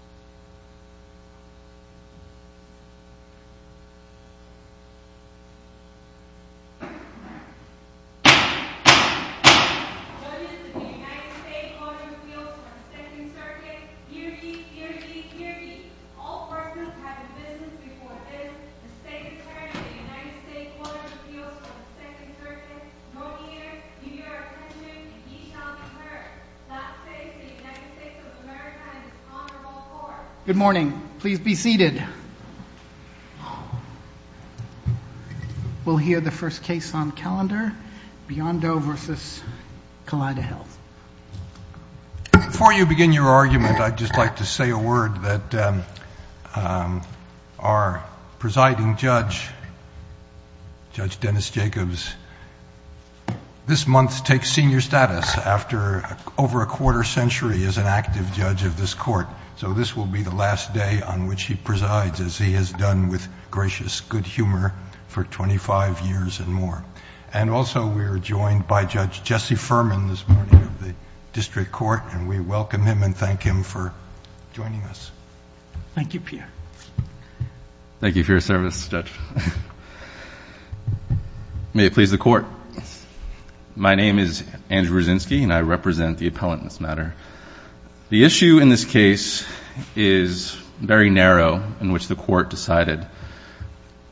Judges, the United States Court of Appeals for the Second Circuit, hear me, hear me, hear me! All persons having business before this, the State Attorney of the United States Court of Appeals for the Second Circuit, go near, give your attention, and ye shall be heard. That says the United States of America and its Honorable Court. Good morning. Please be seated. We'll hear the first case on calendar, Biondo v. Kaleida Health. Before you begin your argument, I'd just like to say a word that our presiding judge, Judge Dennis Jacobs, this month takes senior status after over a quarter century as an active judge of this court. So this will be the last day on which he presides, as he has done with gracious good humor for 25 years and more. And also, we are joined by Judge Jesse Furman this morning of the district court, and we welcome him and thank him for joining us. Thank you, Pierre. Thank you for your service, Judge. May it please the court. My name is Andrew Zinsky, and I represent the appellant in this matter. The issue in this case is very narrow, in which the court decided.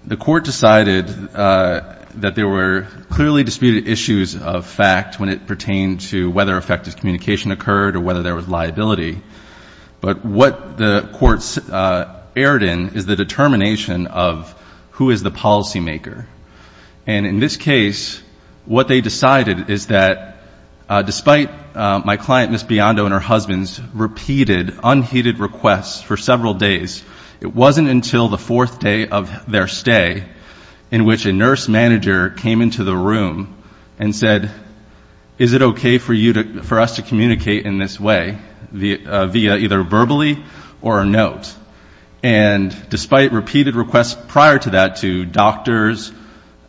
The court decided that there were clearly disputed issues of fact when it pertained to whether effective communication occurred or whether there was liability. But what the court erred in is the determination of who is the policymaker. And in this case, what they decided is that despite my client, Ms. Biondo, and her husband's repeated, unheeded requests for several days, it wasn't until the fourth day of their stay in which a nurse manager came into the room and said, is it okay for us to communicate in this way via either verbally or a note? And despite repeated requests prior to that to doctors,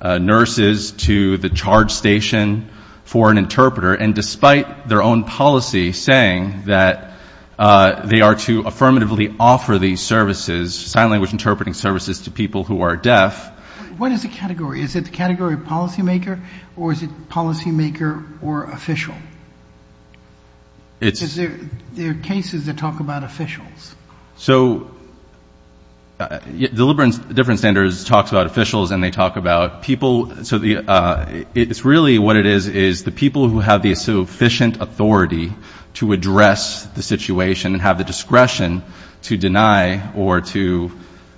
nurses, to the charge station for an interpreter, and despite their own policy saying that they are to affirmatively offer these services, sign language interpreting services, to people who are deaf. What is the category? Is it the category of policymaker, or is it policymaker or official? Because there are cases that talk about officials. So different standards talk about officials, and they talk about people. It's really what it is, is the people who have the sufficient authority to address the situation and have the discretion to deny or to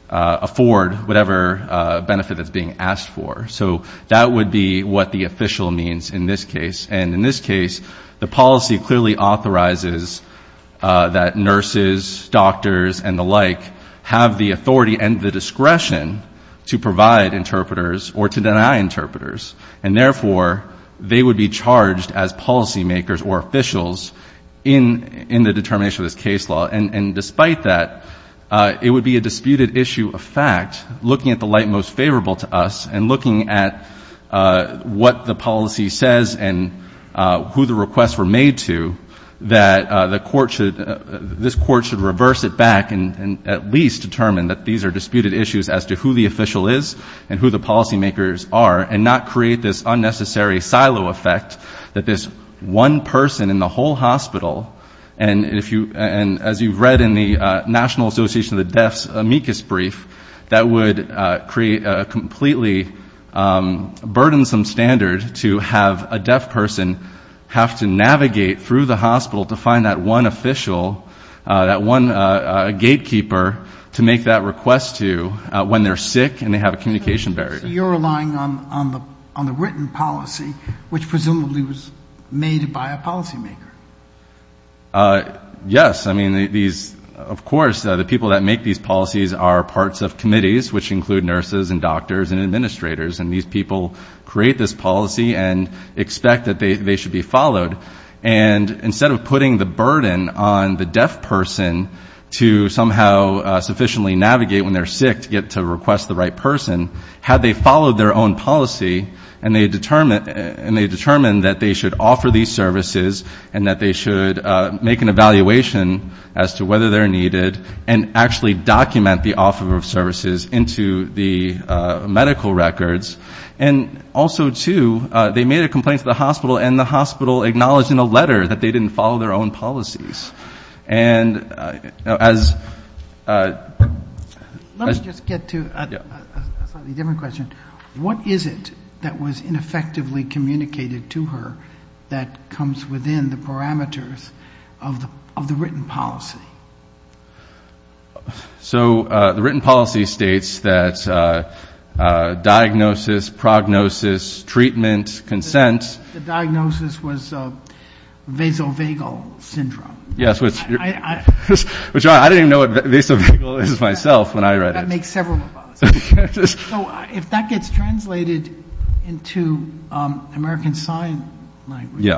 afford whatever benefit that's being asked for. So that would be what the official means in this case. And in this case, the policy clearly authorizes that nurses, doctors, and the like have the authority and the discretion to provide interpreters or to deny interpreters, and therefore they would be charged as policymakers or officials in the determination of this case law. And despite that, it would be a disputed issue of fact, looking at the light most favorable to us and looking at what the policy says and who the requests were made to, that this court should reverse it back and at least determine that these are disputed issues as to who the official is and who the policymakers are and not create this unnecessary silo effect that this one person in the whole hospital, and as you've read in the National Association of the Deaf's amicus brief, that would create a completely burdensome standard to have a deaf person have to navigate through the hospital to find that one official, that one gatekeeper, to make that request to when they're sick and they have a communication barrier. So you're relying on the written policy, which presumably was made by a policymaker. Yes. I mean, these, of course, the people that make these policies are parts of committees, which include nurses and doctors and administrators, and these people create this policy and expect that they should be followed. And instead of putting the burden on the deaf person to somehow sufficiently navigate when they're sick to get to request the right person, had they followed their own policy and they determined that they should offer these services and that they should make an evaluation as to whether they're needed and actually document the offer of services into the medical records. And also, too, they made a complaint to the hospital, and the hospital acknowledged in a letter that they didn't follow their own policies. Let me just get to a slightly different question. What is it that was ineffectively communicated to her that comes within the parameters of the written policy? So the written policy states that diagnosis, prognosis, treatment, consent. The diagnosis was vasovagal syndrome. Yes, which I didn't even know what vasovagal is myself when I read it. That makes several of us. So if that gets translated into American Sign Language,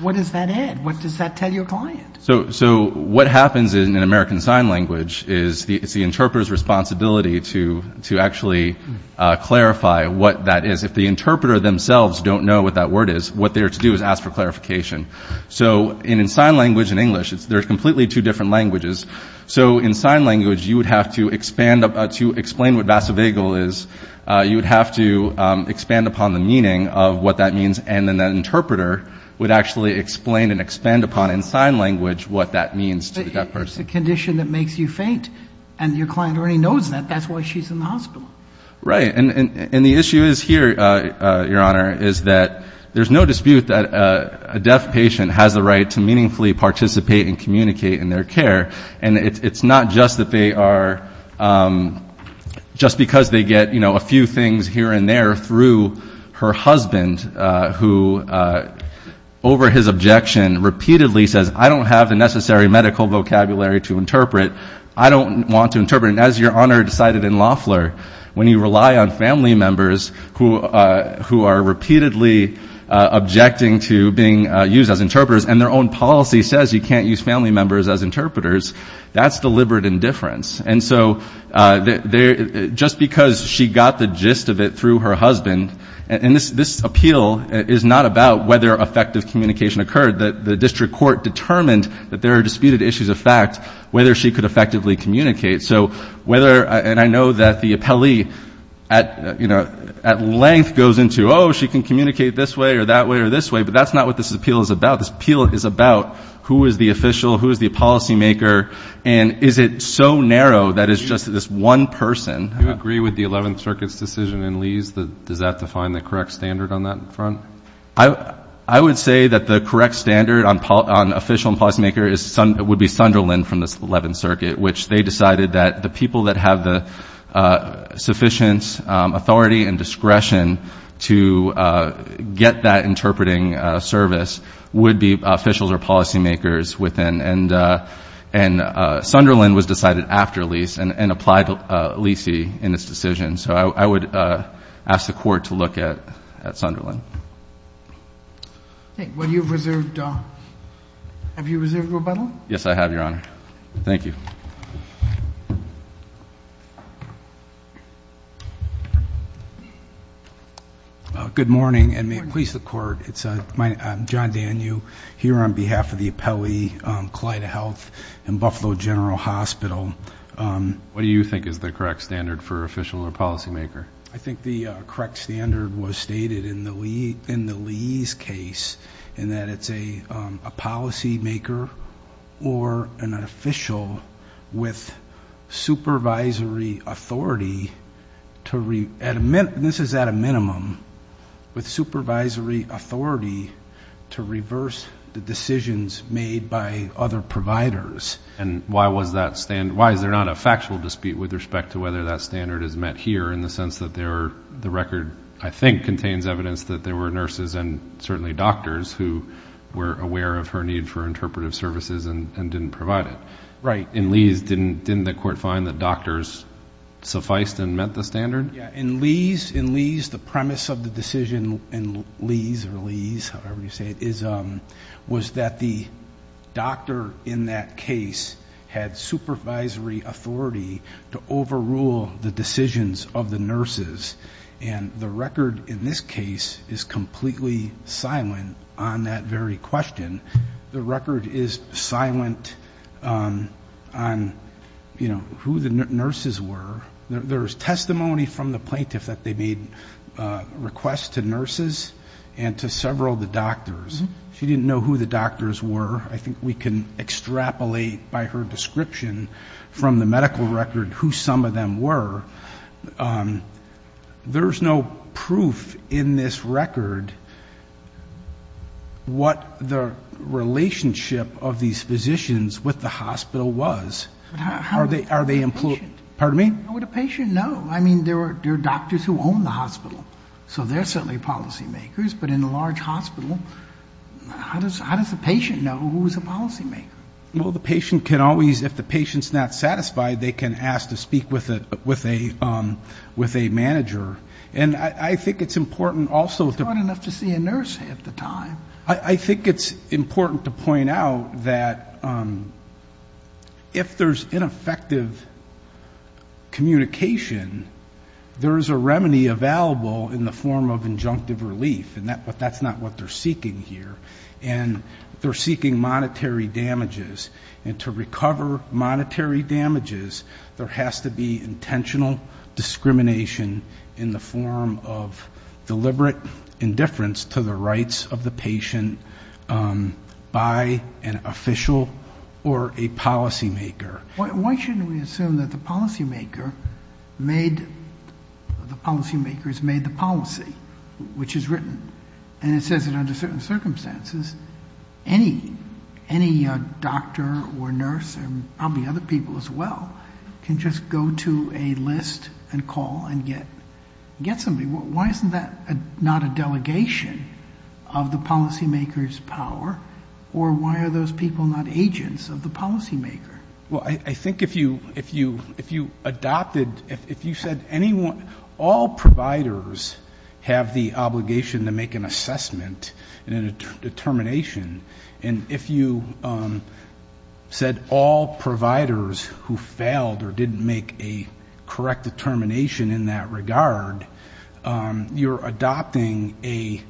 what does that add? What does that tell your client? So what happens in American Sign Language is it's the interpreter's responsibility to actually clarify what that is. If the interpreter themselves don't know what that word is, what they're to do is ask for clarification. So in sign language and English, they're completely two different languages. So in sign language, to explain what vasovagal is, you would have to expand upon the meaning of what that means, and then the interpreter would actually explain and expand upon in sign language what that means to the deaf person. It's a condition that makes you faint, and your client already knows that. That's why she's in the hospital. Right, and the issue here, Your Honor, is that there's no dispute that a deaf patient has the right to meaningfully participate and communicate in their care. And it's not just because they get a few things here and there through her husband who, over his objection, repeatedly says, I don't have the necessary medical vocabulary to interpret. I don't want to interpret. And as Your Honor decided in Loeffler, when you rely on family members who are repeatedly objecting to being used as interpreters and their own policy says you can't use family members as interpreters, that's deliberate indifference. And so just because she got the gist of it through her husband, and this appeal is not about whether effective communication occurred. The district court determined that there are disputed issues of fact whether she could effectively communicate. And I know that the appellee at length goes into, oh, she can communicate this way or that way or this way, but that's not what this appeal is about. This appeal is about who is the official, who is the policymaker, and is it so narrow that it's just this one person. Do you agree with the Eleventh Circuit's decision in Lee's? Does that define the correct standard on that front? I would say that the correct standard on official and policymaker would be Sunderland from the Eleventh Circuit, which they decided that the people that have the sufficient authority and discretion to get that interpreting service would be officials or policymakers within. And Sunderland was decided after Lee's and applied Lee's in its decision. So I would ask the Court to look at Sunderland. Okay. Well, have you reserved rebuttal? Yes, I have, Your Honor. Thank you. Good morning, and may it please the Court. I'm John Danew here on behalf of the appellee, Collida Health and Buffalo General Hospital. What do you think is the correct standard for official or policymaker? I think the correct standard was stated in the Lee's case in that it's a policymaker or an official with supervisory authority to read. And this is at a minimum, with supervisory authority to reverse the decisions made by other providers. And why is there not a factual dispute with respect to whether that standard is met here in the sense that the record, I think, contains evidence that there were nurses and certainly doctors who were aware of her need for interpretive services and didn't provide it. Right. In Lee's, didn't the Court find that doctors sufficed and met the standard? Yeah. In Lee's, the premise of the decision in Lee's or Lee's, however you say it, was that the doctor in that case had supervisory authority to overrule the decisions of the nurses. And the record in this case is completely silent on that very question. The record is silent on, you know, who the nurses were. There is testimony from the plaintiff that they made requests to nurses and to several of the doctors. She didn't know who the doctors were. I think we can extrapolate by her description from the medical record who some of them were. There's no proof in this record what the relationship of these physicians with the hospital was. How would a patient know? Pardon me? How would a patient know? I mean, there are doctors who own the hospital, so they're certainly policymakers. But in a large hospital, how does a patient know who's a policymaker? Well, the patient can always, if the patient's not satisfied, they can ask to speak with a manager. And I think it's important also to... It's fun enough to see a nurse half the time. I think it's important to point out that if there's ineffective communication, there is a remedy available in the form of injunctive relief, but that's not what they're seeking here. And they're seeking monetary damages. And to recover monetary damages, there has to be intentional discrimination in the form of deliberate indifference to the rights of the patient by an official or a policymaker. Why shouldn't we assume that the policymaker made the policy, which is written, and it says that under certain circumstances, any doctor or nurse and probably other people as well can just go to a list and call and get somebody. Why isn't that not a delegation of the policymaker's power? Or why are those people not agents of the policymaker? Well, I think if you adopted... All providers have the obligation to make an assessment and a determination. And if you said all providers who failed or didn't make a correct determination in that regard, you're adopting a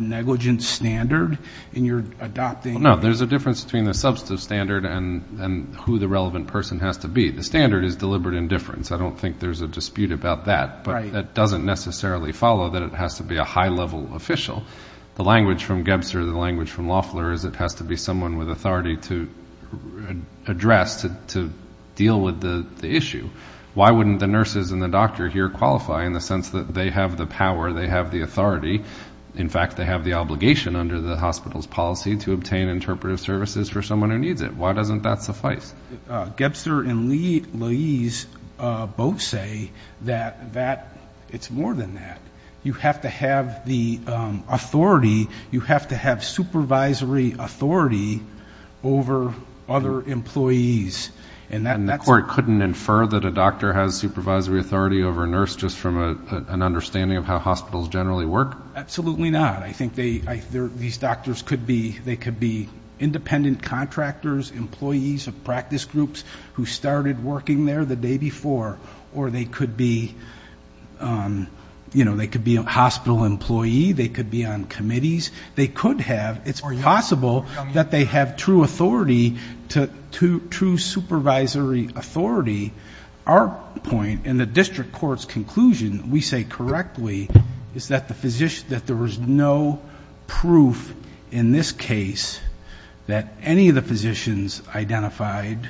negligence standard and you're adopting... No, there's a difference between the substantive standard and who the relevant person has to be. The standard is deliberate indifference. I don't think there's a dispute about that. But that doesn't necessarily follow that it has to be a high-level official. The language from Gebster, the language from Loeffler, is it has to be someone with authority to address, to deal with the issue. Why wouldn't the nurses and the doctor here qualify in the sense that they have the power, they have the authority, in fact they have the obligation under the hospital's policy to obtain interpretive services for someone who needs it? Why doesn't that suffice? Gebster and Lais both say that it's more than that. You have to have the authority, you have to have supervisory authority over other employees. And the court couldn't infer that a doctor has supervisory authority over a nurse just from an understanding of how hospitals generally work? Absolutely not. I think these doctors could be independent contractors, employees of practice groups who started working there the day before, or they could be a hospital employee, they could be on committees. They could have. It's possible that they have true authority, true supervisory authority. Our point in the district court's conclusion, we say correctly, is that there was no proof in this case that any of the physicians identified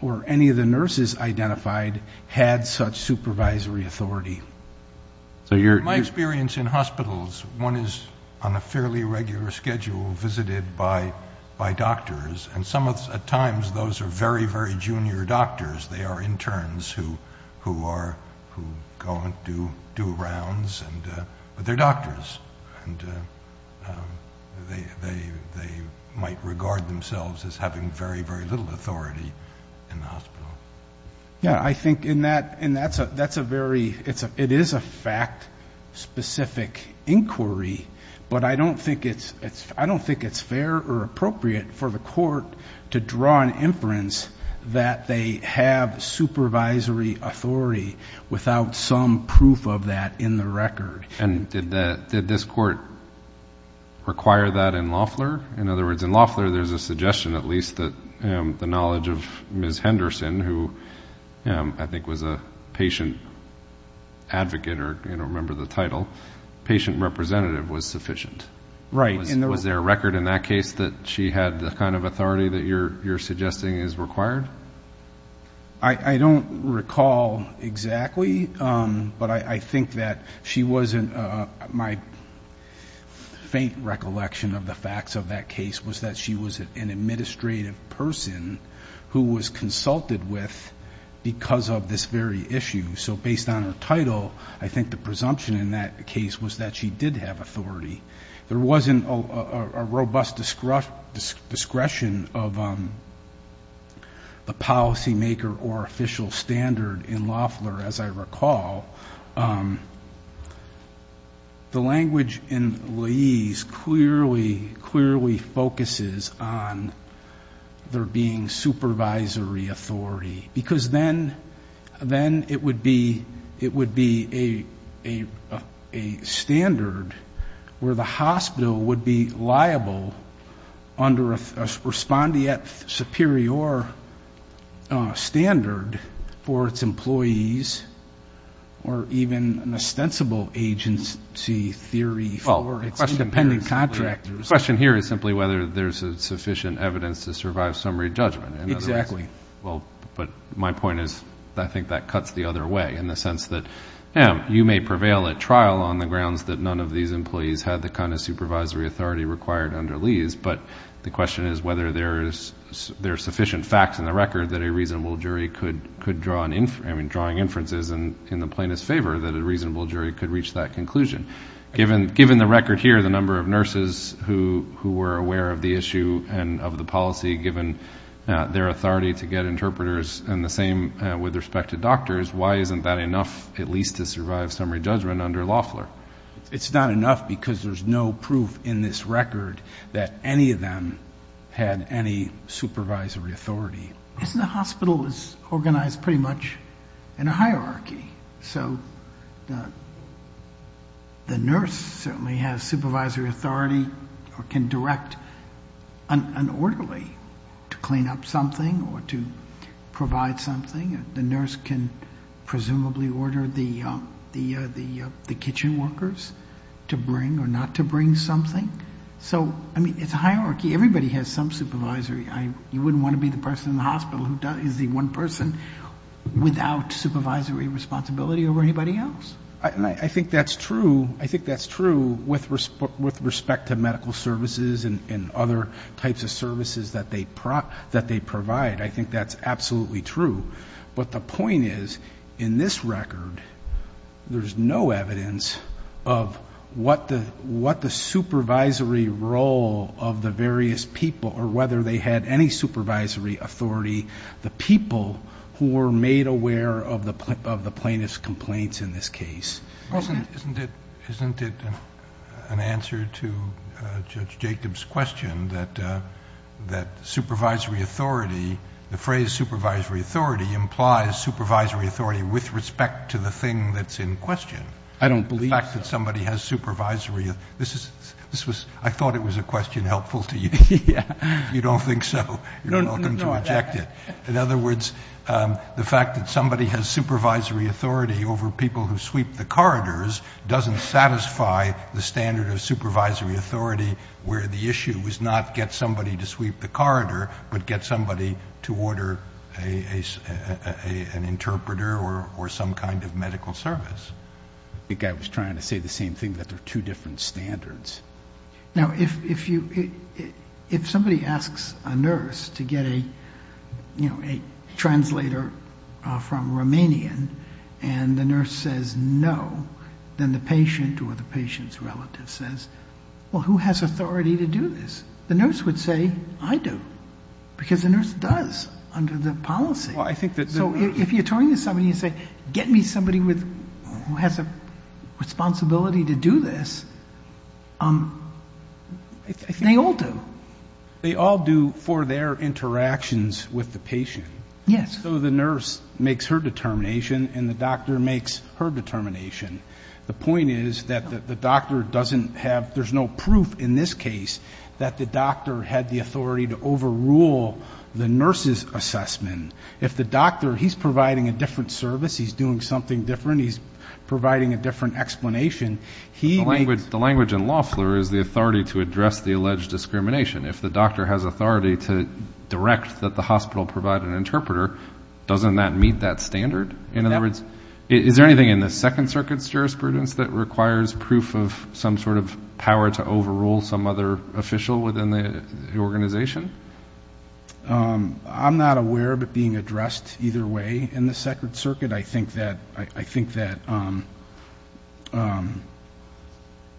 or any of the nurses identified had such supervisory authority. My experience in hospitals, one is on a fairly regular schedule visited by doctors, and at times those are very, very junior doctors. They are interns who go and do rounds, but they're doctors. And they might regard themselves as having very, very little authority in the hospital. Yeah, I think in that, that's a very, it is a fact-specific inquiry, but I don't think it's fair or appropriate for the court to draw an inference that they have supervisory authority without some proof of that in the record. And did this court require that in Loeffler? In other words, in Loeffler there's a suggestion at least that the knowledge of Ms. Henderson, who I think was a patient advocate or, you know, remember the title, patient representative was sufficient. Right. Was there a record in that case that she had the kind of authority that you're suggesting is required? I don't recall exactly, but I think that she wasn't, my faint recollection of the facts of that case was that she was an administrative person who was consulted with because of this very issue. So based on her title, I think the presumption in that case was that she did have authority. There wasn't a robust discretion of the policymaker or official standard in Loeffler, as I recall. The language in Laiz clearly focuses on there being supervisory authority, because then it would be a standard where the hospital would be liable under a respondeat superior standard for its employees or even an ostensible agency theory for its independent contractors. The question here is simply whether there's sufficient evidence to survive summary judgment. Exactly. Well, but my point is I think that cuts the other way in the sense that, yeah, you may prevail at trial on the grounds that none of these employees had the kind of supervisory authority required under Laiz, but the question is whether there's sufficient facts in the record that a reasonable jury could draw inferences in the plaintiff's favor that a reasonable jury could reach that conclusion. Given the record here, the number of nurses who were aware of the issue and of the policy, given their authority to get interpreters, and the same with respect to doctors, why isn't that enough at least to survive summary judgment under Loeffler? It's not enough because there's no proof in this record that any of them had any supervisory authority. The hospital is organized pretty much in a hierarchy, so the nurse certainly has supervisory authority or can direct an orderly to clean up something or to provide something. The nurse can presumably order the kitchen workers to bring or not to bring something. So, I mean, it's a hierarchy. Everybody has some supervisory. You wouldn't want to be the person in the hospital who is the one person without supervisory responsibility over anybody else. And I think that's true. I think that's true with respect to medical services and other types of services that they provide. I think that's absolutely true. But the point is, in this record, there's no evidence of what the supervisory role of the various people or whether they had any supervisory authority, the people who were made aware of the plaintiff's complaints in this case. Isn't it an answer to Judge Jacobs' question that supervisory authority, the phrase supervisory authority implies supervisory authority with respect to the thing that's in question? I don't believe so. The fact that somebody has supervisory. I thought it was a question helpful to you. If you don't think so, you're welcome to reject it. In other words, the fact that somebody has supervisory authority over people who sweep the corridors doesn't satisfy the standard of supervisory authority where the issue is not get somebody to sweep the corridor but get somebody to order an interpreter or some kind of medical service. I think I was trying to say the same thing, that there are two different standards. Now, if somebody asks a nurse to get a translator from Romanian and the nurse says no, then the patient or the patient's relative says, well, who has authority to do this? The nurse would say, I do, because the nurse does under the policy. So if you turn to somebody and say, get me somebody who has a responsibility to do this, they all do. They all do for their interactions with the patient. Yes. So the nurse makes her determination and the doctor makes her determination. The point is that the doctor doesn't have, there's no proof in this case that the doctor had the authority to overrule the nurse's assessment. If the doctor, he's providing a different service, he's doing something different, he's providing a different explanation. The language in law is the authority to address the alleged discrimination. If the doctor has authority to direct that the hospital provide an interpreter, doesn't that meet that standard? In other words, is there anything in the Second Circuit's jurisprudence that requires proof of some sort of power to overrule some other official within the organization? I'm not aware of it being addressed either way in the Second Circuit. I think that ‑‑ Can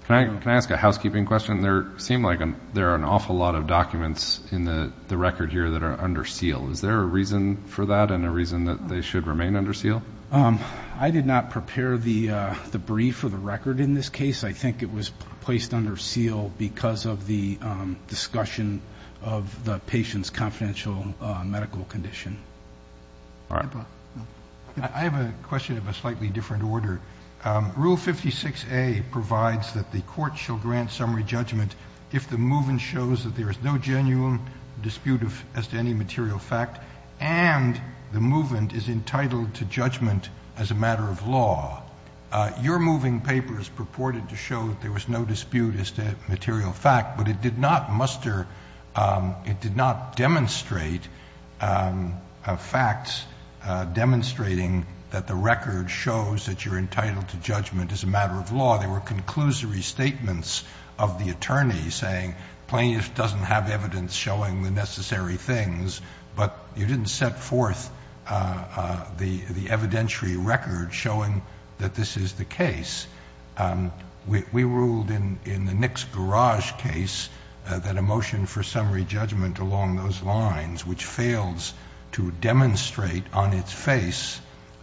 I ask a housekeeping question? There seem like there are an awful lot of documents in the record here that are under seal. Is there a reason for that and a reason that they should remain under seal? I did not prepare the brief or the record in this case. I think it was placed under seal because of the discussion of the patient's confidential medical condition. All right. I have a question of a slightly different order. Rule 56A provides that the court shall grant summary judgment if the movement shows that there is no genuine dispute as to any material fact and the movement is entitled to judgment as a matter of law. Your moving paper is purported to show that there was no dispute as to material fact, but it did not muster ‑‑ it did not demonstrate facts demonstrating that the record shows that you're entitled to judgment as a matter of law. There were conclusory statements of the attorney saying plaintiff doesn't have evidence showing the necessary things, but you didn't set forth the evidentiary record showing that this is the case. We ruled in the Nix Garage case that a motion for summary judgment along those lines, which fails to demonstrate on its face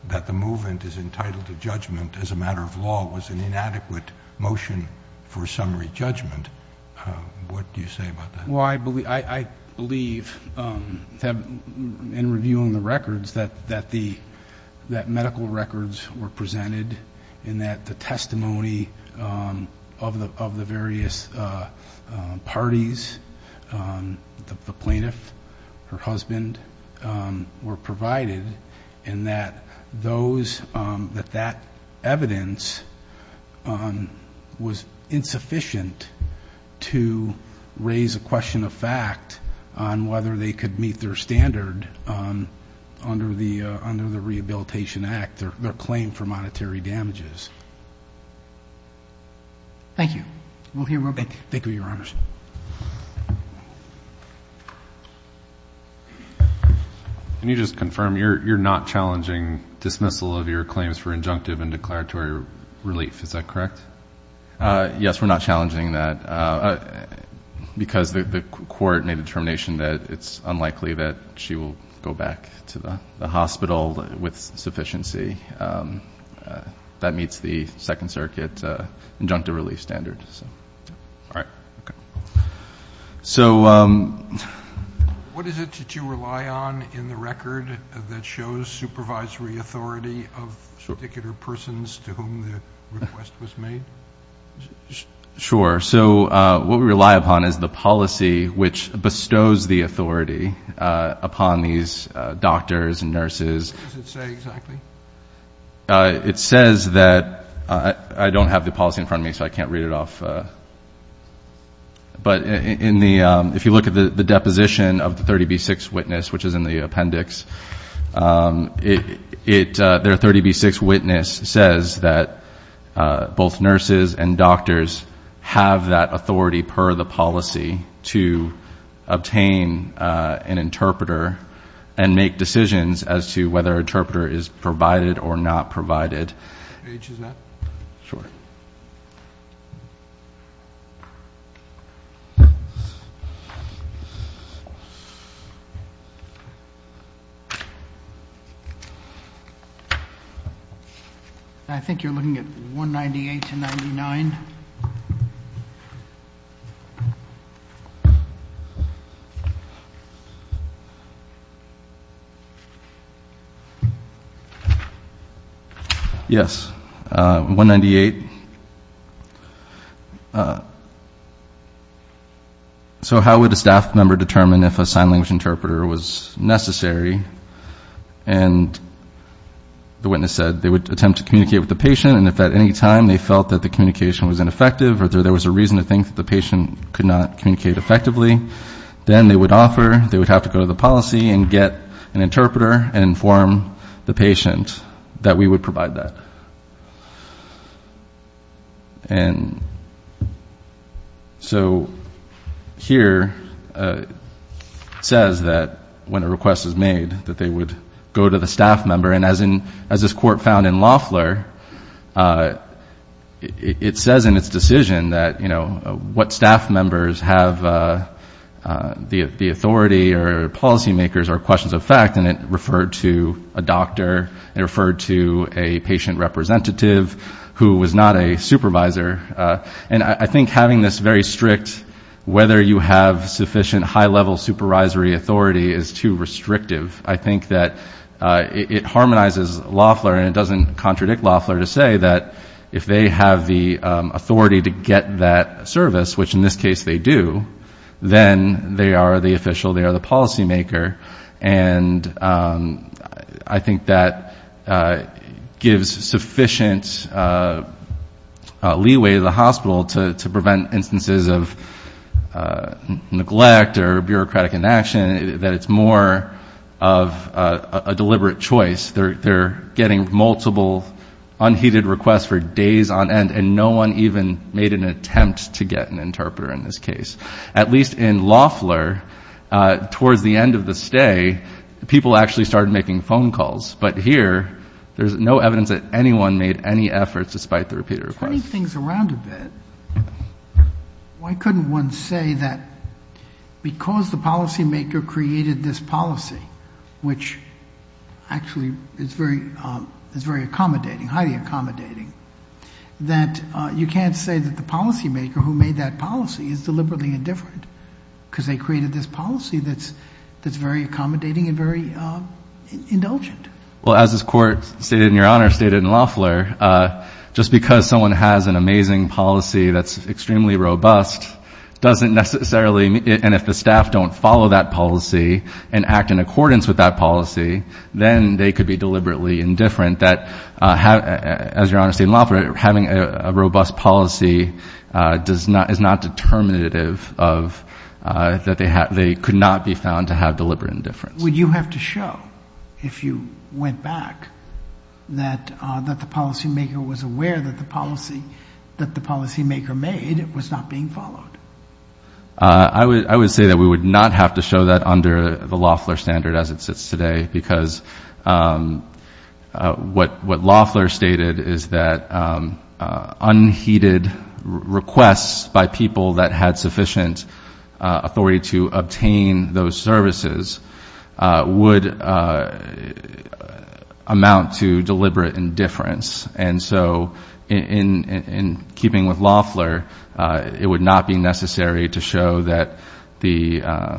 that the movement is entitled to judgment as a matter of law, was an inadequate motion for summary judgment. What do you say about that? Well, I believe in reviewing the records that medical records were presented and that the testimony of the various parties, the plaintiff, her husband, were provided and that those ‑‑ that that evidence was insufficient to raise a question of fact on whether they could meet their standard under the Rehabilitation Act, their claim for monetary damages. Thank you. We'll hear real quick. Thank you, Your Honors. Next question. Can you just confirm you're not challenging dismissal of your claims for injunctive and declaratory relief? Is that correct? Yes, we're not challenging that because the court made a determination that it's unlikely that she will go back to the hospital with sufficiency that meets the Second Circuit injunctive relief standards. All right. So what is it that you rely on in the record that shows supervisory authority of particular persons to whom the request was made? Sure. So what we rely upon is the policy which bestows the authority upon these doctors and nurses. What does it say exactly? It says that ‑‑ I don't have the policy in front of me, so I can't read it off. But if you look at the deposition of the 30B6 witness, which is in the appendix, their 30B6 witness says that both nurses and doctors have that authority per the policy to obtain an interpreter and make decisions as to whether an interpreter is provided or not provided. H is not? Sure. I think you're looking at 198 to 99. Yes, 198. So how would a staff member determine if a sign language interpreter was necessary? And the witness said they would attempt to communicate with the patient and if at any time they felt that the communication was ineffective or there was a reason to think that the patient could not communicate effectively, then they would have to go to the policy and get an interpreter and inform the patient that we would provide that. And so here it says that when a request is made, that they would go to the staff member. And as this court found in Loeffler, it says in its decision that, you know, what staff members have the authority or policymakers or questions of fact and it referred to a doctor, it referred to a patient representative who was not a supervisor. And I think having this very strict whether you have sufficient high-level supervisory authority is too restrictive. I think that it harmonizes Loeffler and it doesn't contradict Loeffler to say that if they have the authority to get that service, which in this case they do, then they are the official, they are the policymaker. And I think that gives sufficient leeway to the hospital to prevent instances of neglect or bureaucratic inaction, that it's more of a deliberate choice. They're getting multiple unheeded requests for days on end and no one even made an attempt to get an interpreter in this case. At least in Loeffler, towards the end of the stay, people actually started making phone calls. But here, there's no evidence that anyone made any efforts despite the repeated requests. Turning things around a bit, why couldn't one say that because the policymaker created this policy, which actually is very accommodating, highly accommodating, that you can't say that the policymaker who made that policy is deliberately indifferent because they created this policy that's very accommodating and very indulgent. Well, as this Court stated in your Honor, stated in Loeffler, just because someone has an amazing policy that's extremely robust doesn't necessarily, and if the staff don't follow that policy and act in accordance with that policy, then they could be deliberately indifferent. As Your Honor stated in Loeffler, having a robust policy is not determinative of, that they could not be found to have deliberate indifference. Would you have to show, if you went back, that the policymaker was aware that the policy, that the policymaker made was not being followed? I would say that we would not have to show that under the Loeffler standard as it sits today, because what Loeffler stated is that unheeded requests by people that had sufficient authority to obtain those services would amount to deliberate indifference. And so in keeping with Loeffler, it would not be necessary to show that the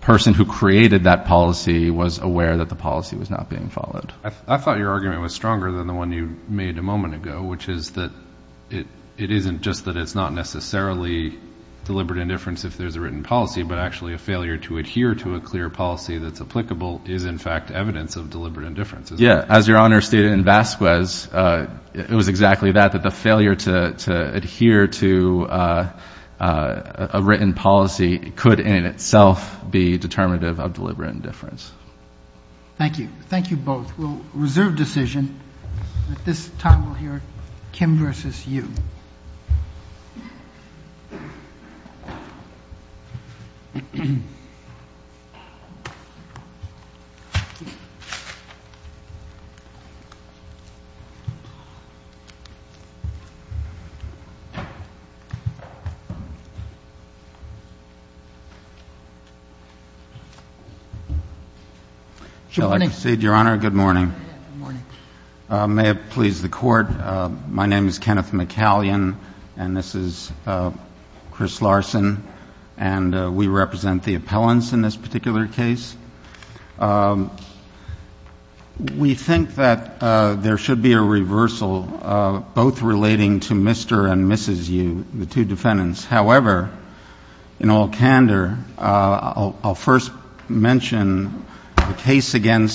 person who created that policy was aware that the policy was not being followed. I thought your argument was stronger than the one you made a moment ago, which is that it isn't just that it's not necessarily deliberate indifference if there's a written policy, but actually a failure to adhere to a clear policy that's applicable is, in fact, evidence of deliberate indifference. Yeah, as Your Honor stated in Vasquez, it was exactly that, that the failure to adhere to a written policy could in itself be determinative of deliberate indifference. Thank you. Thank you both. We'll reserve decision. At this time we'll hear Kim versus you. Shall I proceed, Your Honor? Good morning. Good morning. May it please the Court. My name is Kenneth McCallion, and this is Chris Larson, and we represent the appellants in this particular case. We think that there should be a reversal, both relating to Mr. and Mrs. Yu, the two defendants. However, in all candor, I'll first mention the case against Mr. Yu.